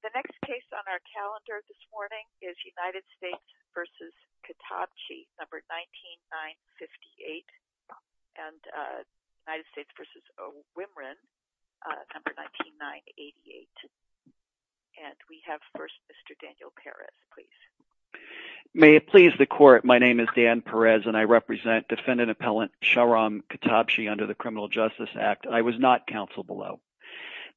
The next case on our calendar this morning is United States v. Ketabchi, number 19-958, and United States v. O. Wimron, number 19-988. And we have first Mr. Daniel Perez, please. May it please the Court, my name is Dan Perez, and I represent defendant-appellant Shahram Ketabchi under the Criminal Justice Act, and I was not counsel below.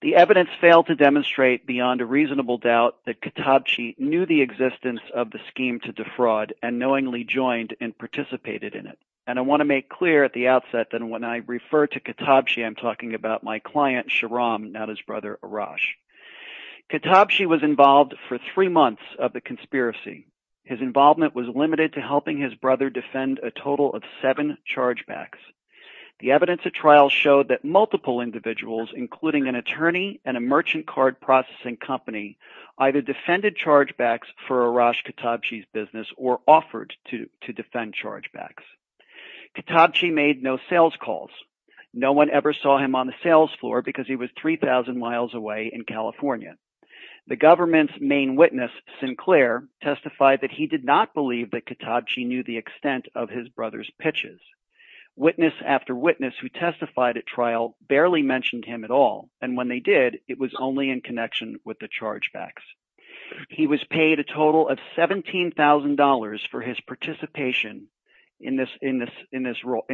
The evidence failed to demonstrate beyond a reasonable doubt that Ketabchi knew the existence of the scheme to defraud and knowingly joined and participated in it. And I want to make clear at the outset that when I refer to Ketabchi, I'm talking about my client Shahram, not his brother Arash. Ketabchi was involved for three months of the conspiracy. His involvement was limited to helping his brother defend a total of seven chargebacks. The evidence of trial showed that multiple individuals, including an attorney and a merchant card processing company, either defended chargebacks for Arash Ketabchi's business or offered to defend chargebacks. Ketabchi made no sales calls. No one ever saw him on the sales floor because he was 3,000 miles away in California. The government's main witness, Sinclair, testified that he did not believe that Ketabchi knew the extent of his brother's pitches. Witness after witness who testified at trial barely mentioned him at all, and when they did, it was only in connection with the chargebacks. He was paid a total of $17,000 for his participation in this role,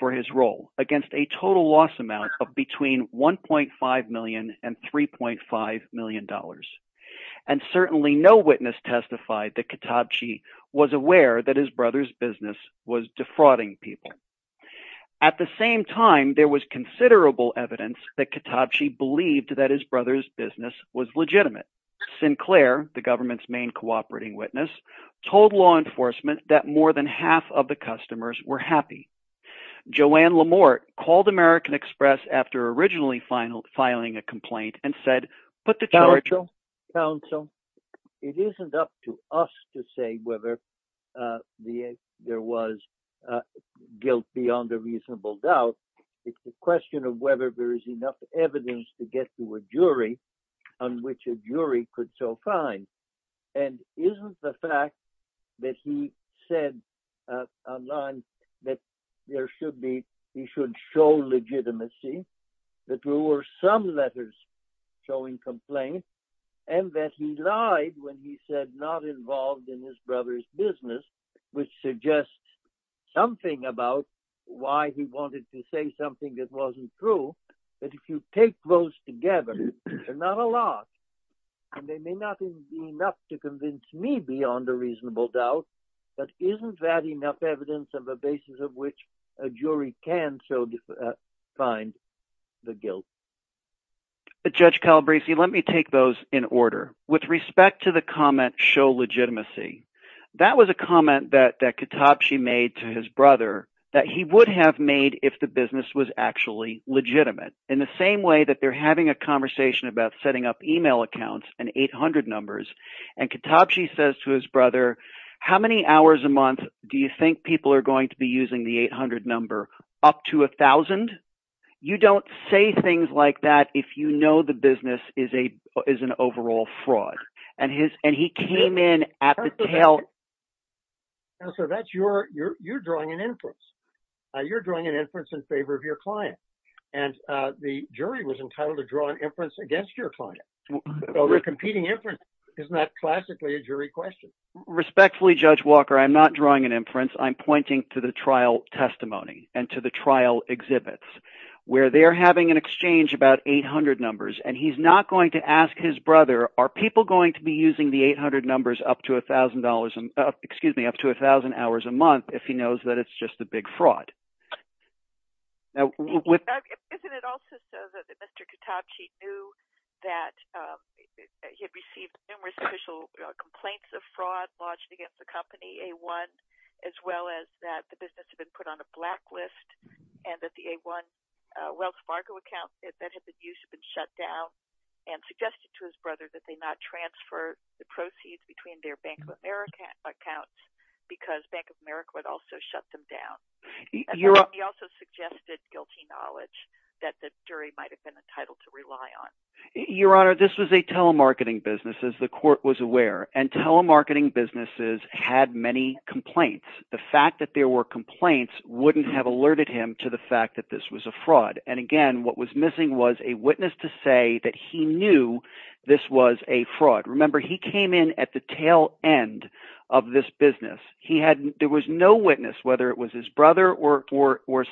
for his role, against a total loss amount of between $1.5 million and $3.5 million. And certainly no witness testified that Ketabchi was aware that his brother's business was defrauding people. At the same time, there was considerable evidence that Ketabchi believed that his brother's business was legitimate. Sinclair, the government's main cooperating witness, told law enforcement that more than half of the customers were happy. Joanne Lamort called American Express after originally filing a complaint and said, Counsel, it isn't up to us to say whether there was guilt beyond a reasonable doubt. It's a question of whether there is enough evidence to get to a jury on which a jury could so find. And isn't the fact that he said online that there should be he should show legitimacy, that there were some letters showing complaint, and that he lied when he said not involved in his brother's business, which suggests something about why he wanted to say something that wasn't true. But if you take those together, they're not a lot, and they may not be enough to convince me beyond a reasonable doubt. But isn't that enough evidence of a basis of which a jury can so find the guilt? Judge Calabresi, let me take those in order. With respect to the comment show legitimacy, that was a comment that Ketabchi made to his brother that he would have made if the business was actually legitimate. In the same way that they're having a conversation about setting up email accounts and 800 numbers, and Ketabchi says to his brother, how many hours a month do you think people are going to be using the 800 number up to a thousand? You don't say things like that if you know the business is an overall fraud. And he came in at the tail. So that's you're drawing an inference. You're drawing an inference in favor of your client. And the jury was entitled to draw an inference against your client. Overcompeting inference is not classically a jury question. Respectfully, Judge Walker, I'm not drawing an inference. I'm pointing to the trial testimony and to the trial exhibits where they're having an exchange about 800 numbers. And he's not going to ask his brother, are people going to be using the 800 numbers up to a thousand dollars, excuse me, up to a thousand hours a month if he knows that it's just a big fraud? Isn't it also so that Mr. Ketabchi knew that he had received numerous official complaints of fraud lodged against the company, A1, as well as that the business had been put on a blacklist and that the A1 Wells Fargo account that had been used had been shut down and suggested to his brother that they not transfer the proceeds between their Bank of America accounts because Bank of America would also shut them down? He also suggested guilty knowledge that the jury might have been entitled to rely on. Your Honor, this was a telemarketing business, as the court was aware, and telemarketing businesses had many complaints. The fact that there were complaints wouldn't have alerted him to the fact that this was a fraud. And again, what was missing was a witness to say that he knew this was a fraud. Remember, he came in at the tail end of this business. There was no witness, whether it was his brother or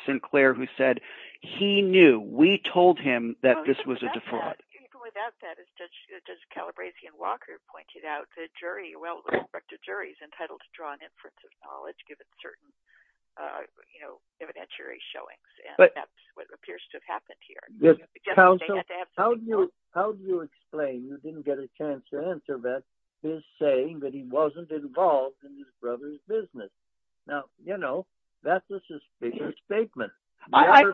Sinclair, who said he knew. We told him that this was a fraud. Even without that, as Judge Calabrese and Walker pointed out, the jury, well, the inspector jury is entitled to draw an inference of knowledge given certain evidentiary showings. And that's what appears to have happened here. How do you explain you didn't get a chance to answer that, his saying that he wasn't involved in his brother's business? Now, you know, that's a suspicious statement. I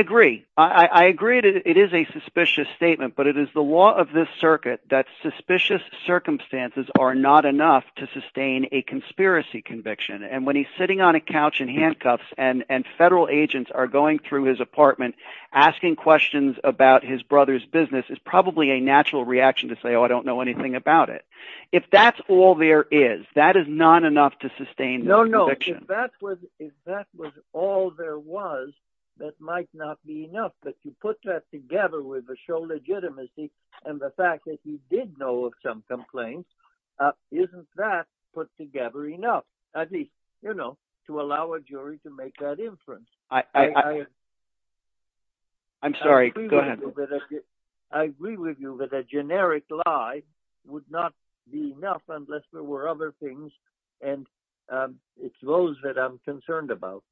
agree. I agree that it is a suspicious statement. But it is the law of this circuit that suspicious circumstances are not enough to sustain a conspiracy conviction. And when he's sitting on a couch in handcuffs and federal agents are going through his apartment asking questions about his brother's business, it's probably a natural reaction to say, oh, I don't know anything about it. If that's all there is, that is not enough to sustain the conviction. No, no. If that was all there was, that might not be enough. But you put that together with the show legitimacy and the fact that you did know of some complaints, isn't that put together enough? At least, you know, to allow a jury to make that inference. I'm sorry. Go ahead. I agree with you that a generic lie would not be enough unless there were other things. And it's those that I'm concerned about.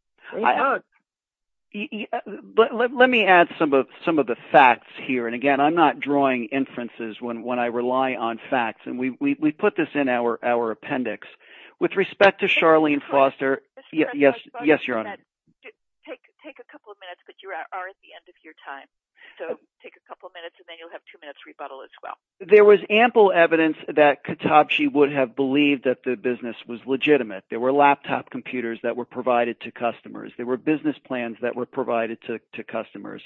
But let me add some of the facts here. And again, I'm not drawing inferences when I rely on facts. And we put this in our appendix. With respect to Charlene Foster. Yes. Yes, your honor. Take a couple of minutes, but you are at the end of your time. So take a couple of minutes and then you'll have two minutes rebuttal as well. There was ample evidence that Katabchi would have believed that the business was legitimate. There were laptop computers that were provided to customers. There were business plans that were provided to customers.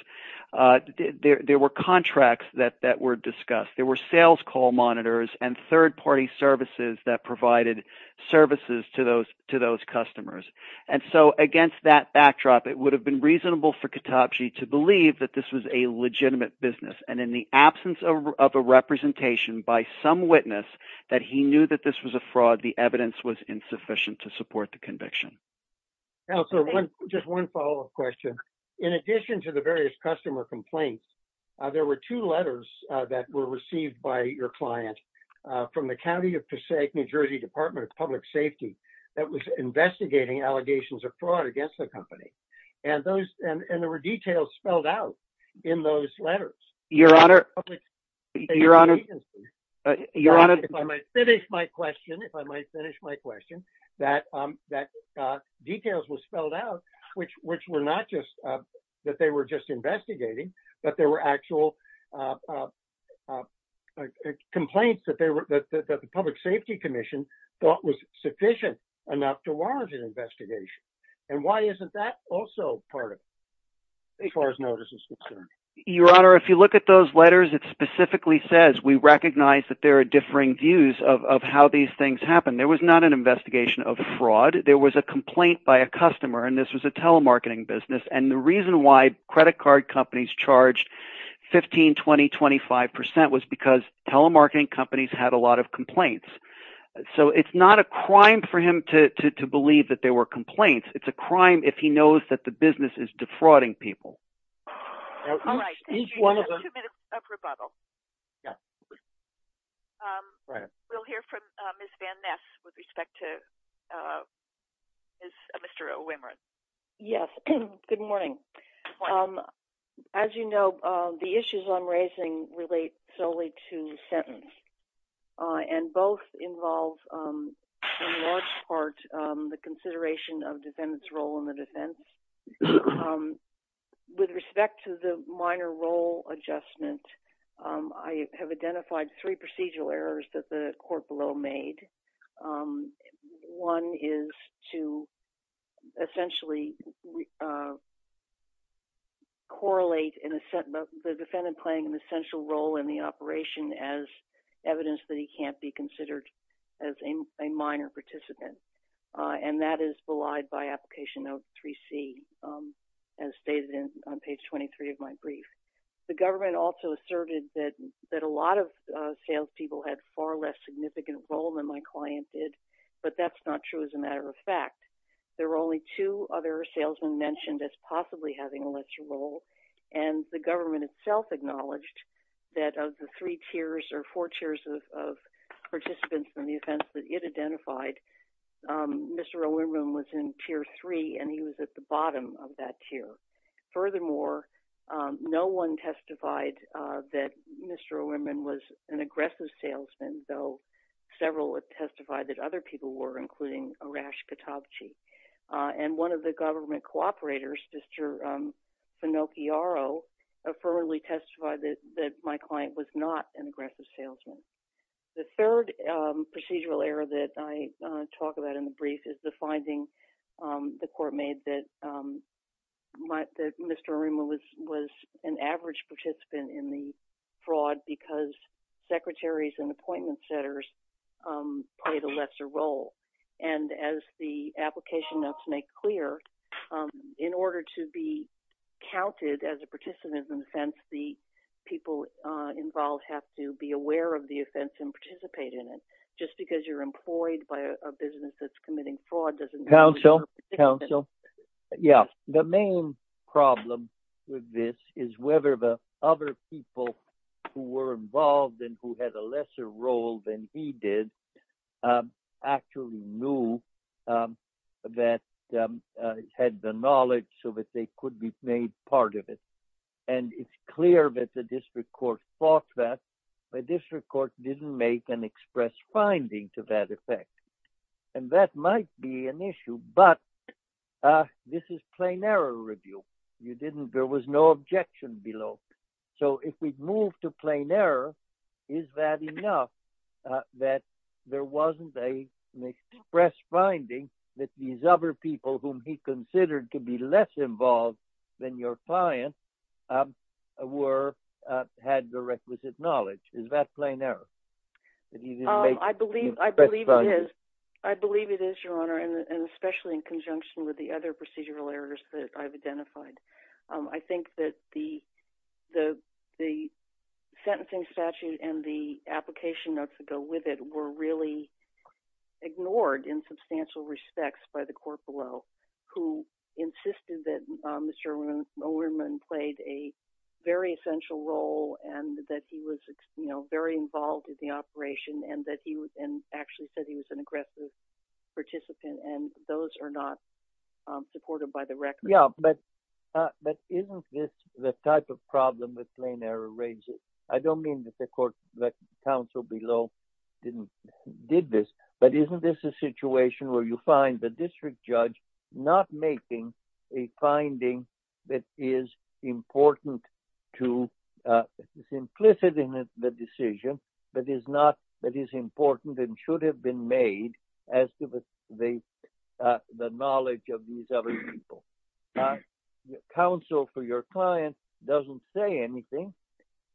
There were contracts that were discussed. There were sales call monitors and third party services that provided services to those customers. And so against that backdrop, it would have been reasonable for Katabchi to believe that this was a legitimate business. And in the absence of a representation by some witness that he knew that this was a fraud. The evidence was insufficient to support the conviction. Also, just one follow up question. In addition to the various customer complaints, there were two letters that were received by your client from the county of Passaic, New Jersey Department of Public Safety. That was investigating allegations of fraud against the company. And those and there were details spelled out in those letters. Your Honor. Your Honor. Your Honor, if I might finish my question, if I might finish my question, that that details were spelled out, which which were not just that they were just investigating. But there were actual complaints that they were that the Public Safety Commission thought was sufficient enough to warrant an investigation. And why isn't that also part of. As far as notice is concerned, Your Honor, if you look at those letters, it specifically says we recognize that there are differing views of how these things happen. There was not an investigation of fraud. There was a complaint by a customer and this was a telemarketing business. And the reason why credit card companies charged 15, 20, 25 percent was because telemarketing companies had a lot of complaints. So it's not a crime for him to believe that there were complaints. It's a crime if he knows that the business is defrauding people. All right. Each one of the two minutes of rebuttal. Yeah. Right. We'll hear from Ms. Van Ness with respect to Mr. Wimron. Yes. Good morning. As you know, the issues I'm raising relate solely to sentence and both involve in large part the consideration of defendants role in the defense. With respect to the minor role adjustment, I have identified three procedural errors that the court below made. One is to essentially correlate the defendant playing an essential role in the operation as evidence that he can't be considered as a minor participant. And that is belied by application of 3C as stated on page 23 of my brief. The government also asserted that a lot of salespeople had far less significant role than my client did. But that's not true as a matter of fact. There were only two other salesmen mentioned as possibly having a lesser role. And the government itself acknowledged that of the three tiers or four tiers of participants in the offense that it identified, Mr. Wimron was in tier three. And he was at the bottom of that tier. Furthermore, no one testified that Mr. Wimron was an aggressive salesman, though several testified that other people were, including Arash Katabchi. And one of the government cooperators, Mr. Finocchiaro, affirmatively testified that my client was not an aggressive salesman. The third procedural error that I talk about in the brief is the finding the court made that Mr. Wimron was an average participant in the fraud because secretaries and appointment setters played a lesser role. And as the application notes make clear, in order to be counted as a participant in the offense, the people involved have to be aware of the offense and participate in it. Just because you're employed by a business that's committing fraud doesn't mean you're a participant. So, yeah, the main problem with this is whether the other people who were involved and who had a lesser role than he did actually knew that had the knowledge so that they could be made part of it. And it's clear that the district court fought that. The district court didn't make an express finding to that effect. And that might be an issue, but this is plain error review. There was no objection below. So if we move to plain error, is that enough that there wasn't an express finding that these other people whom he considered to be less involved than your client had the requisite knowledge? Is that plain error? I believe it is, Your Honor, and especially in conjunction with the other procedural errors that I've identified. I think that the sentencing statute and the application notes that go with it were really ignored in substantial respects by the court below, who insisted that Mr. Oherman played a very essential role and that he was very involved in the operation and actually said he was an aggressive participant, and those are not supported by the record. Yeah, but isn't this the type of problem that plain error raises? I don't mean that the counsel below didn't did this, but isn't this a situation where you find the district judge not making a finding that is important to, is implicit in the decision, but is not, that is important and should have been made as to the knowledge of these other people? Counsel for your client doesn't say anything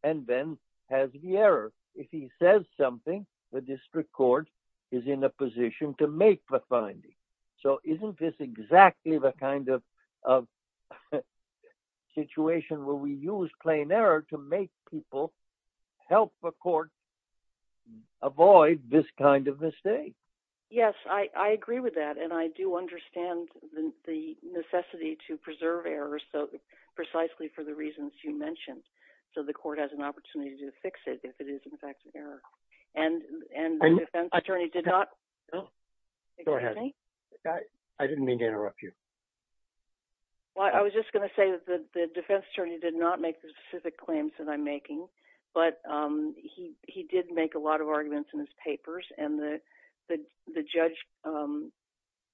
and then has the error. If he says something, the district court is in a position to make the finding. So isn't this exactly the kind of situation where we use plain error to make people help the court avoid this kind of mistake? Yes, I agree with that, and I do understand the necessity to preserve errors precisely for the reasons you mentioned. So the court has an opportunity to fix it if it is, in fact, an error. And the defense attorney did not. Go ahead. I didn't mean to interrupt you. Well, I was just going to say that the defense attorney did not make the specific claims that I'm making, but he did make a lot of arguments in his papers, and the judge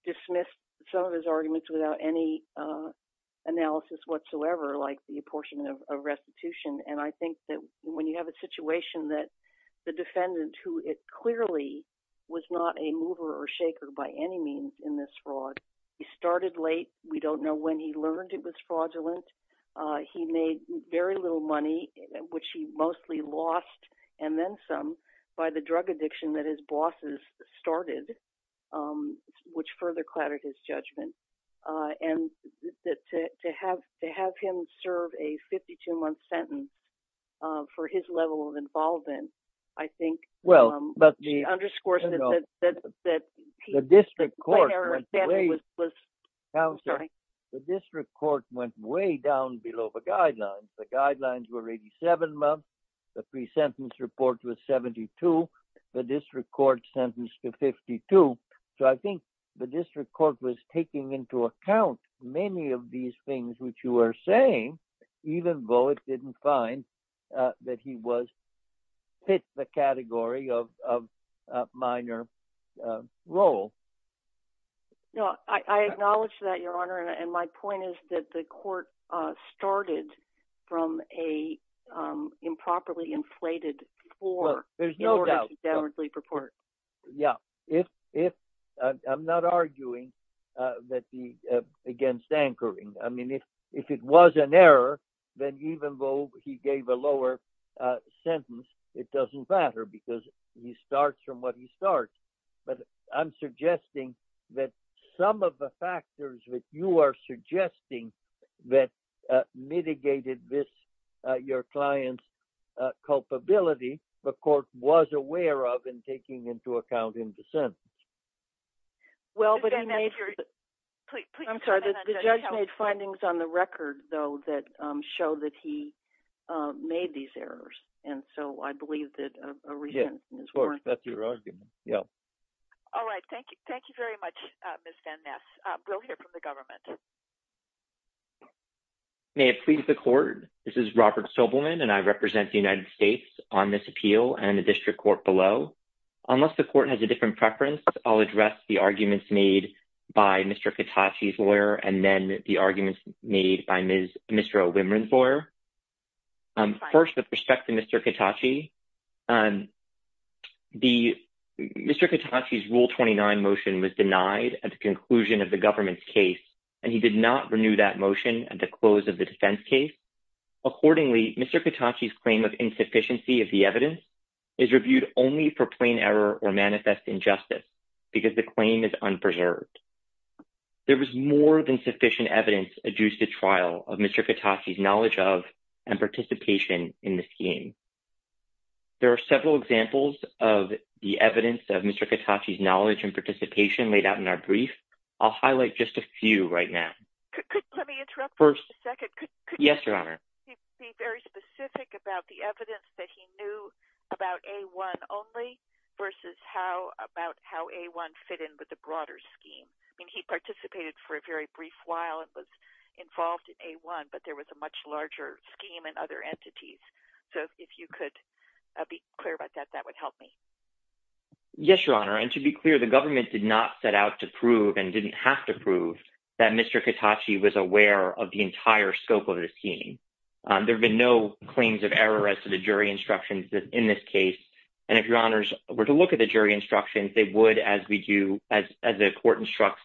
dismissed some of his arguments without any analysis whatsoever, like the apportionment of restitution. And I think that when you have a situation that the defendant, who it clearly was not a mover or shaker by any means in this fraud, he started late. We don't know when he learned it was fraudulent. He made very little money, which he mostly lost, and then some, by the drug addiction that his bosses started, which further clattered his judgment. And to have him serve a 52-month sentence for his level of involvement, I think underscores that the district court went way down below the guidelines. The guidelines were 87 months. The pre-sentence report was 72. The district court sentenced him to 52. So I think the district court was taking into account many of these things which you are saying, even though it didn't find that he was fit the category of minor role. No, I acknowledge that, Your Honor, and my point is that the court started from a improperly inflated floor. Yeah. I'm not arguing against anchoring. I mean, if it was an error, then even though he gave a lower sentence, it doesn't matter because he starts from what he starts. But I'm suggesting that some of the factors that you are suggesting that mitigated this, your client's culpability, the court was aware of and taking into account in the sentence. Ms. Van Ness, I'm sorry. The judge made findings on the record, though, that show that he made these errors. And so I believe that a re-sentence is warranted. Yeah, of course. That's your argument. Yeah. All right. Thank you. Thank you very much, Ms. Van Ness. We'll hear from the government. May it please the court. This is Robert Sobelman, and I represent the United States on this appeal and the district court below. Unless the court has a different preference, I'll address the arguments made by Mr. Katachi's lawyer and then the arguments made by Ms. O'Wimron's lawyer. First, with respect to Mr. Katachi, Mr. Katachi's Rule 29 motion was denied at the conclusion of the government's case, and he did not renew that motion at the close of the defense case. Accordingly, Mr. Katachi's claim of insufficiency of the evidence is reviewed only for plain error or manifest injustice because the claim is unpreserved. There was more than sufficient evidence adduced at trial of Mr. Katachi's knowledge of and participation in the scheme. There are several examples of the evidence of Mr. Katachi's knowledge and participation laid out in our brief. I'll highlight just a few right now. Let me interrupt for a second. Yes, Your Honor. Could you be very specific about the evidence that he knew about A-1 only versus how A-1 fit in with the broader scheme? I mean, he participated for a very brief while and was involved in A-1, but there was a much larger scheme and other entities. So if you could be clear about that, that would help me. Yes, Your Honor. And to be clear, the government did not set out to prove and didn't have to prove that Mr. Katachi was aware of the entire scope of the scheme. There have been no claims of error as to the jury instructions in this case. And if Your Honors were to look at the jury instructions, they would, as we do, as the court instructs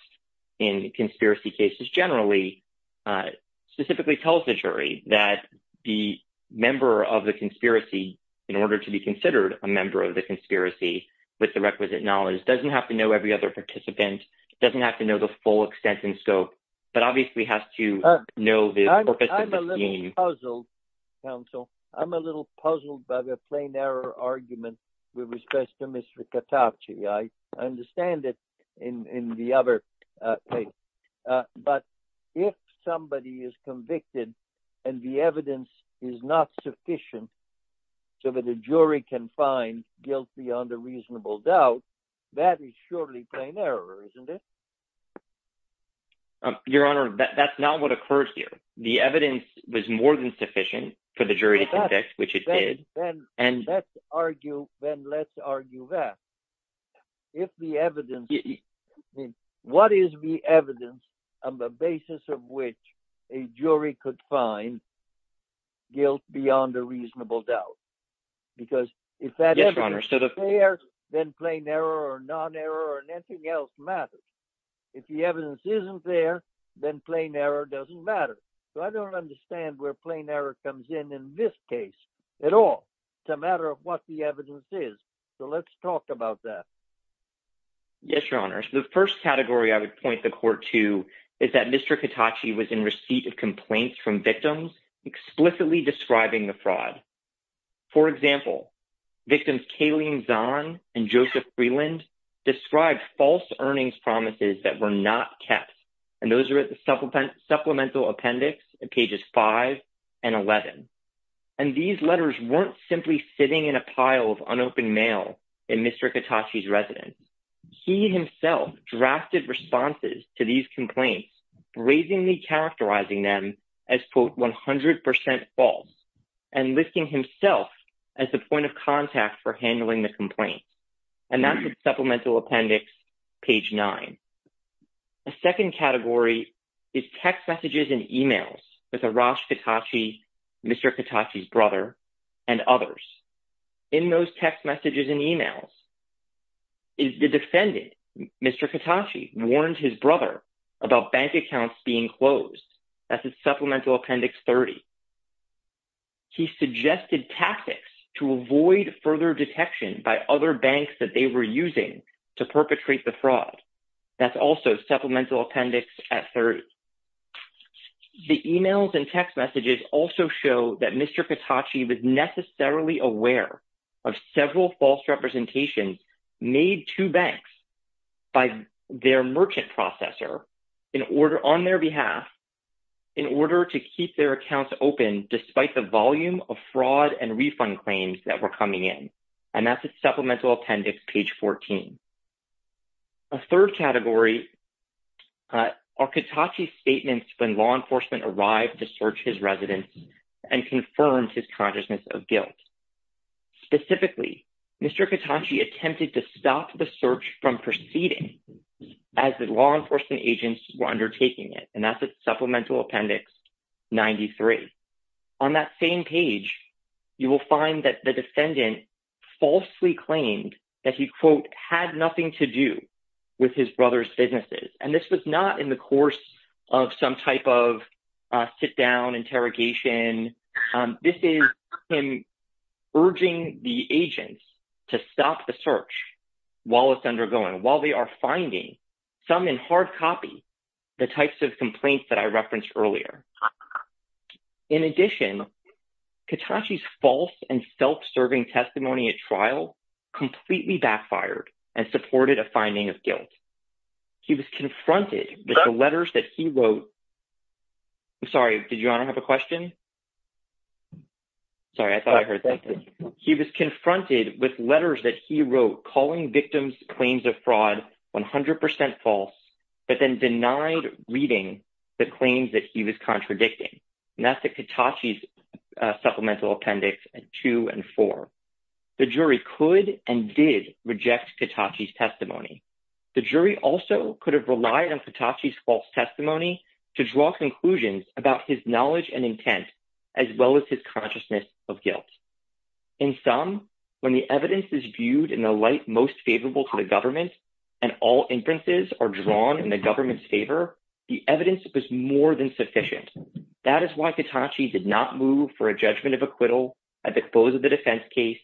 in conspiracy cases generally, specifically tells the jury that the member of the conspiracy, in order to be considered a member of the conspiracy with the requisite knowledge, doesn't have to know every other participant, doesn't have to know the full extent and scope, but obviously has to know the purpose of the scheme. I'm a little puzzled, counsel. I'm a little puzzled by the plain error argument with respect to Mr. Katachi. I understand it in the other case. But if somebody is convicted and the evidence is not sufficient so that the jury can find guilty on the reasonable doubt, that is surely plain error, isn't it? Your Honor, that's not what occurs here. The evidence was more than sufficient for the jury to convict, which it did. Then let's argue that. If the evidence – what is the evidence on the basis of which a jury could find guilt beyond a reasonable doubt? Because if that evidence is there, then plain error or non-error or anything else matters. If the evidence isn't there, then plain error doesn't matter. So I don't understand where plain error comes in in this case at all. It's a matter of what the evidence is. So let's talk about that. Yes, Your Honor. The first category I would point the court to is that Mr. Katachi was in receipt of complaints from victims explicitly describing the fraud. For example, victims Kayleen Zahn and Joseph Freeland described false earnings promises that were not kept, and those are at the supplemental appendix at pages 5 and 11. And these letters weren't simply sitting in a pile of unopened mail in Mr. Katachi's residence. He himself drafted responses to these complaints, brazenly characterizing them as, quote, 100% false and listing himself as the point of contact for handling the complaint. And that's at supplemental appendix page 9. A second category is text messages and emails with Arash Katachi, Mr. Katachi's brother, and others. In those text messages and emails, the defendant, Mr. Katachi, warned his brother about bank accounts being closed. That's at supplemental appendix 30. He suggested tactics to avoid further detection by other banks that they were using to perpetrate the fraud. That's also supplemental appendix at 30. The emails and text messages also show that Mr. Katachi was necessarily aware of several false representations made to banks by their merchant processor on their behalf in order to keep their accounts open despite the volume of fraud and refund claims that were coming in. And that's at supplemental appendix page 14. A third category are Katachi's statements when law enforcement arrived to search his residence and confirmed his consciousness of guilt. Specifically, Mr. Katachi attempted to stop the search from proceeding as the law enforcement agents were undertaking it, and that's at supplemental appendix 93. On that same page, you will find that the defendant falsely claimed that he, quote, had nothing to do with his brother's businesses. And this was not in the course of some type of sit-down interrogation. This is him urging the agents to stop the search while it's undergoing, while they are finding, some in hard copy, the types of complaints that I referenced earlier. In addition, Katachi's false and self-serving testimony at trial completely backfired and supported a finding of guilt. He was confronted with the letters that he wrote. I'm sorry, did your honor have a question? Sorry, I thought I heard something. He was confronted with letters that he wrote calling victims' claims of fraud 100% false, but then denied reading the claims that he was contradicting. And that's at Katachi's supplemental appendix 2 and 4. The jury could and did reject Katachi's testimony. The jury also could have relied on Katachi's false testimony to draw conclusions about his knowledge and intent, as well as his consciousness of guilt. In sum, when the evidence is viewed in the light most favorable to the government, and all inferences are drawn in the government's favor, the evidence was more than sufficient. That is why Katachi did not move for a judgment of acquittal at the close of the defense case,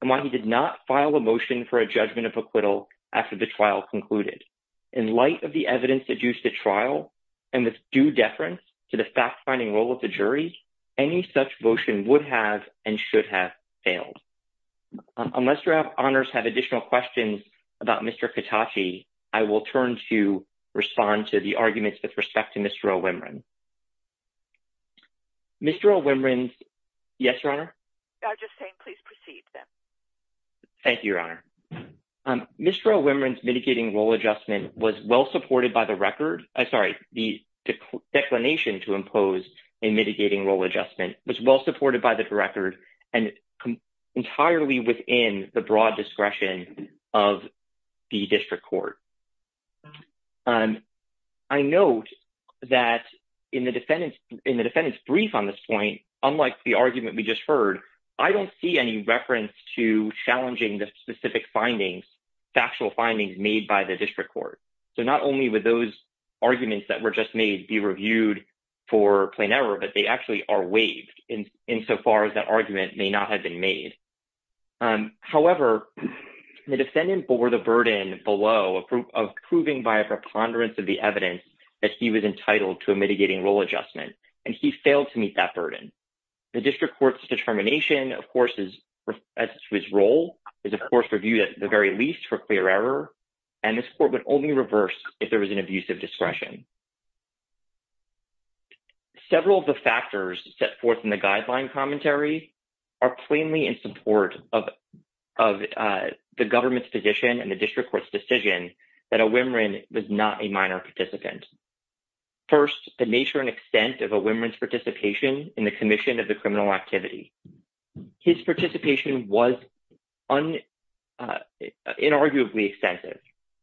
and why he did not file a motion for a judgment of acquittal after the trial concluded. In light of the evidence used at trial, and with due deference to the fact-finding role of the jury, any such motion would have and should have failed. Unless your honors have additional questions about Mr. Katachi, I will turn to respond to the arguments with respect to Mr. O'Wimron. Mr. O'Wimron's, yes, your honor? I was just saying, please proceed. Thank you, your honor. Mr. O'Wimron's mitigating role adjustment was well-supported by the record. Sorry, the declination to impose a mitigating role adjustment was well-supported by the record and entirely within the broad discretion of the district court. I note that in the defendant's brief on this point, unlike the argument we just heard, I don't see any reference to challenging the specific findings, factual findings made by the district court. So not only would those arguments that were just made be reviewed for plain error, but they actually are waived insofar as that argument may not have been made. However, the defendant bore the burden below of proving by a preponderance of the evidence that he was entitled to a mitigating role adjustment, and he failed to meet that burden. The district court's determination, of course, as to his role is, of course, reviewed at the very least for clear error, and this court would only reverse if there was an abusive discretion. Several of the factors set forth in the guideline commentary are plainly in support of the government's position and the district court's decision that O'Wimron was not a minor participant. First, the nature and extent of O'Wimron's participation in the commission of the criminal activity. His participation was inarguably extensive.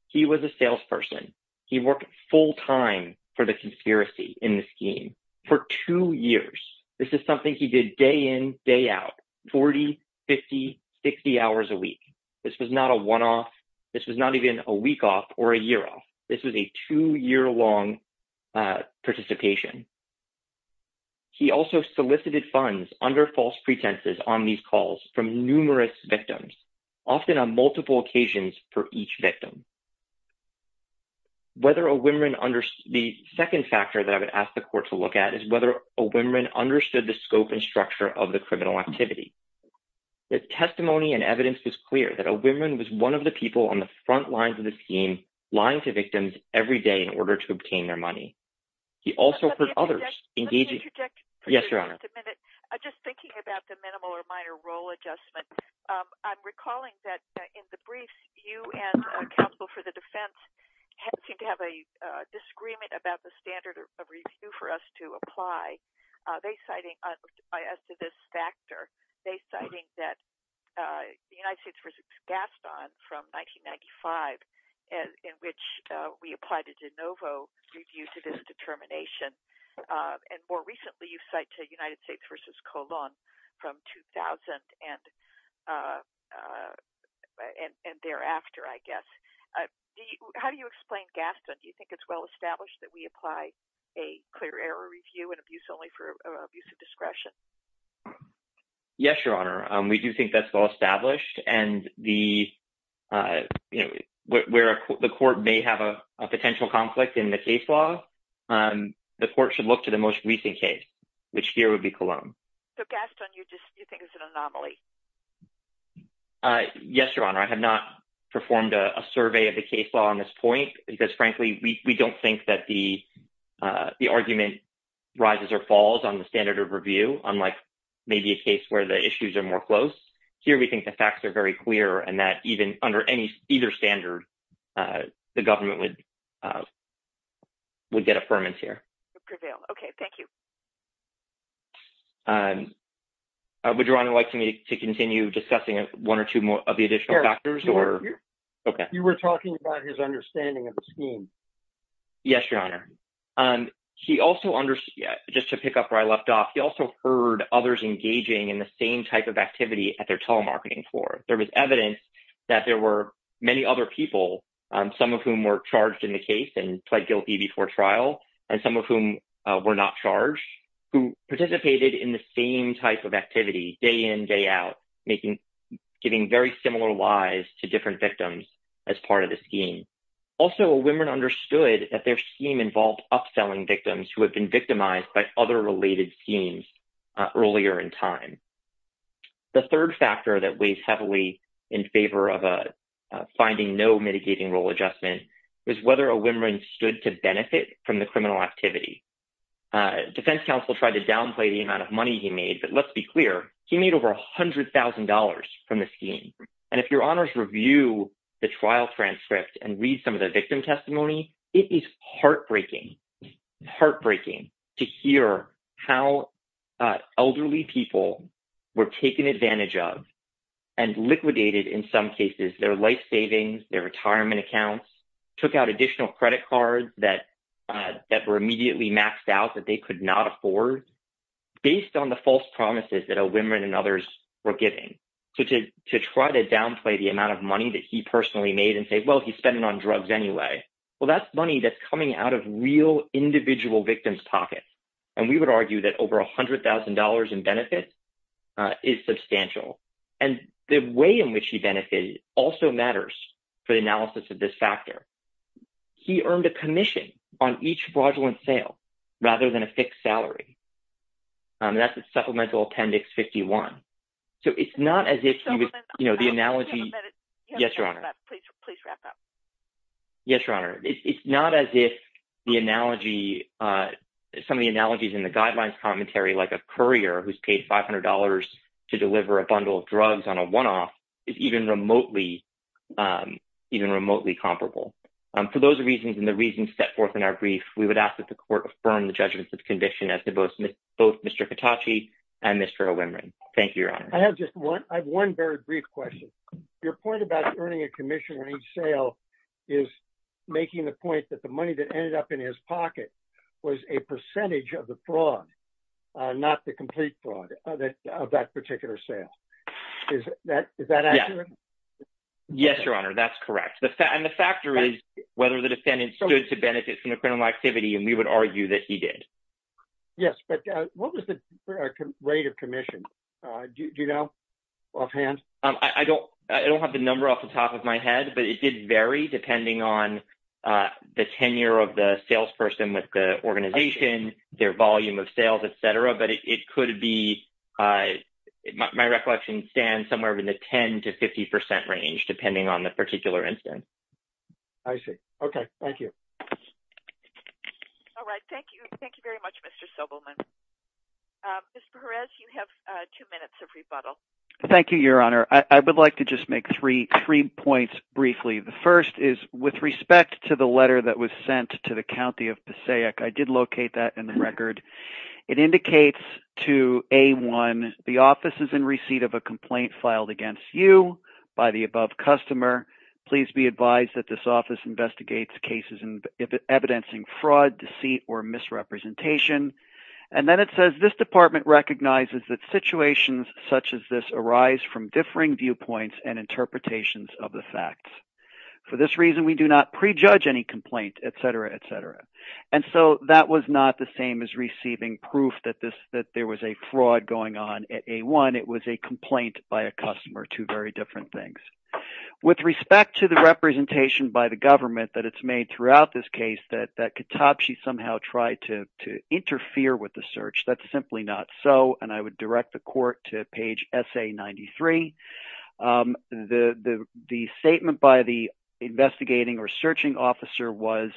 He was a salesperson. He worked full time for the conspiracy in the scheme for two years. This is something he did day in, day out, 40, 50, 60 hours a week. This was not a one-off. This was not even a week off or a year off. This was a two-year-long participation. He also solicited funds under false pretenses on these calls from numerous victims, often on multiple occasions for each victim. The second factor that I would ask the court to look at is whether O'Wimron understood the scope and structure of the criminal activity. The testimony and evidence was clear that O'Wimron was one of the people on the front lines of the scheme lying to victims every day in order to obtain their money. He also heard others engaging – Yes, Your Honor. I'm just thinking about the minimal or minor role adjustment. I'm recalling that in the briefs, you and counsel for the defense seem to have a disagreement about the standard of review for us to apply. As to this factor, they're citing that the United States v. Gaston from 1995 in which we applied a de novo review to this determination. And more recently, you cite the United States v. Colon from 2000 and thereafter, I guess. How do you explain Gaston? Do you think it's well-established that we apply a clear error review and abuse only for abuse of discretion? Yes, Your Honor. We do think that's well-established. And where the court may have a potential conflict in the case law, the court should look to the most recent case, which here would be Colon. So, Gaston, you just think it's an anomaly? Yes, Your Honor. I have not performed a survey of the case law on this point because, frankly, we don't think that the argument rises or falls on the standard of review, unlike maybe a case where the issues are more close. Here, we think the facts are very clear and that even under either standard, the government would get affirmance here. Okay, thank you. Would Your Honor like me to continue discussing one or two of the additional factors? You were talking about his understanding of the scheme. Yes, Your Honor. Just to pick up where I left off, he also heard others engaging in the same type of activity at their telemarketing floor. There was evidence that there were many other people, some of whom were charged in the case and pled guilty before trial, and some of whom were not charged, who participated in the same type of activity day in, day out, giving very similar lies to different victims as part of the scheme. Also, women understood that their scheme involved upselling victims who had been victimized by other related schemes earlier in time. The third factor that weighs heavily in favor of finding no mitigating role adjustment was whether a woman stood to benefit from the criminal activity. Defense counsel tried to downplay the amount of money he made, but let's be clear, he made over $100,000 from the scheme. And if Your Honors review the trial transcript and read some of the victim testimony, it is heartbreaking to hear how elderly people were taken advantage of and liquidated in some cases their life savings, their retirement accounts, took out additional credit cards that were immediately maxed out that they could not afford, based on the false promises that women and others were giving. So to try to downplay the amount of money that he personally made and say, well, he spent it on drugs anyway, well, that's money that's coming out of real individual victims' pockets. And we would argue that over $100,000 in benefits is substantial. And the way in which he benefited also matters for the analysis of this factor. He earned a commission on each fraudulent sale rather than a fixed salary. That's Supplemental Appendix 51. So it's not as if, you know, the analogy. Yes, Your Honor. Please wrap up. Yes, Your Honor. It's not as if the analogy, some of the analogies in the guidelines commentary, like a courier who's paid $500 to deliver a bundle of drugs on a one-off, is even remotely comparable. For those reasons and the reasons set forth in our brief, we would ask that the court affirm the judgment of the conviction as to both Mr. Hitachi and Mr. O'Wimron. Thank you, Your Honor. I have just one very brief question. Your point about earning a commission on each sale is making the point that the money that ended up in his pocket was a percentage of the fraud, not the complete fraud of that particular sale. Is that accurate? Yes, Your Honor, that's correct. And the factor is whether the defendant stood to benefit from the criminal activity, and we would argue that he did. Yes, but what was the rate of commission? Do you know offhand? I don't have the number off the top of my head, but it did vary depending on the tenure of the salesperson with the organization, their volume of sales, et cetera. My recollection stands somewhere in the 10 to 50 percent range, depending on the particular instance. I see. Okay, thank you. All right, thank you. Thank you very much, Mr. Sobelman. Mr. Perez, you have two minutes of rebuttal. Thank you, Your Honor. I would like to just make three points briefly. The first is with respect to the letter that was sent to the county of Passaic. I did locate that in the record. It indicates to A1, the office is in receipt of a complaint filed against you by the above customer. Please be advised that this office investigates cases evidencing fraud, deceit, or misrepresentation. And then it says this department recognizes that situations such as this arise from differing viewpoints and interpretations of the facts. For this reason, we do not prejudge any complaint, et cetera, et cetera. And so that was not the same as receiving proof that there was a fraud going on at A1. It was a complaint by a customer, two very different things. With respect to the representation by the government that it's made throughout this case that Katapshi somehow tried to interfere with the search, that's simply not so. And I would direct the court to page SA93. The statement by the investigating or searching officer was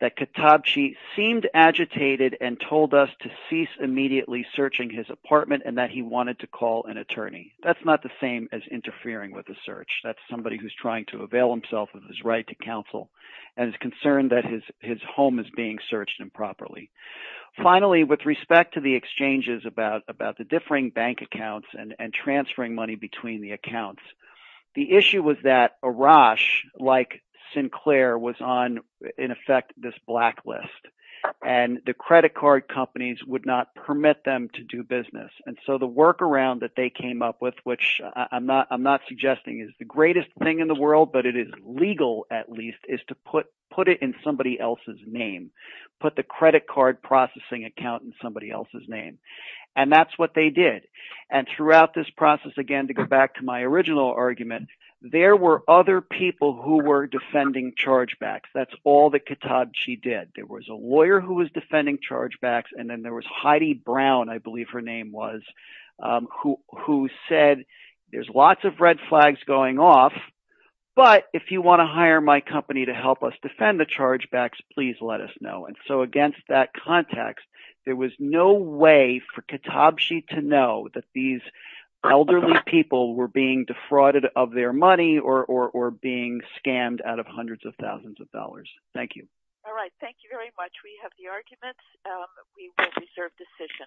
that Katapshi seemed agitated and told us to cease immediately searching his apartment and that he wanted to call an attorney. That's not the same as interfering with the search. That's somebody who's trying to avail himself of his right to counsel and is concerned that his home is being searched improperly. Finally, with respect to the exchanges about the differing bank accounts and transferring money between the accounts, the issue was that Arash, like Sinclair, was on, in effect, this blacklist. And the credit card companies would not permit them to do business. And so the workaround that they came up with, which I'm not suggesting is the greatest thing in the world but it is legal at least, is to put it in somebody else's name. Put the credit card processing account in somebody else's name. And that's what they did. And throughout this process, again, to go back to my original argument, there were other people who were defending chargebacks. That's all that Katapshi did. There was a lawyer who was defending chargebacks. And then there was Heidi Brown, I believe her name was, who said there's lots of red flags going off, but if you want to hire my company to help us defend the chargebacks, please let us know. And so against that context, there was no way for Katapshi to know that these elderly people were being defrauded of their money or being scammed out of hundreds of thousands of dollars. Thank you. All right. Thank you very much. We have the arguments. We will reserve decision.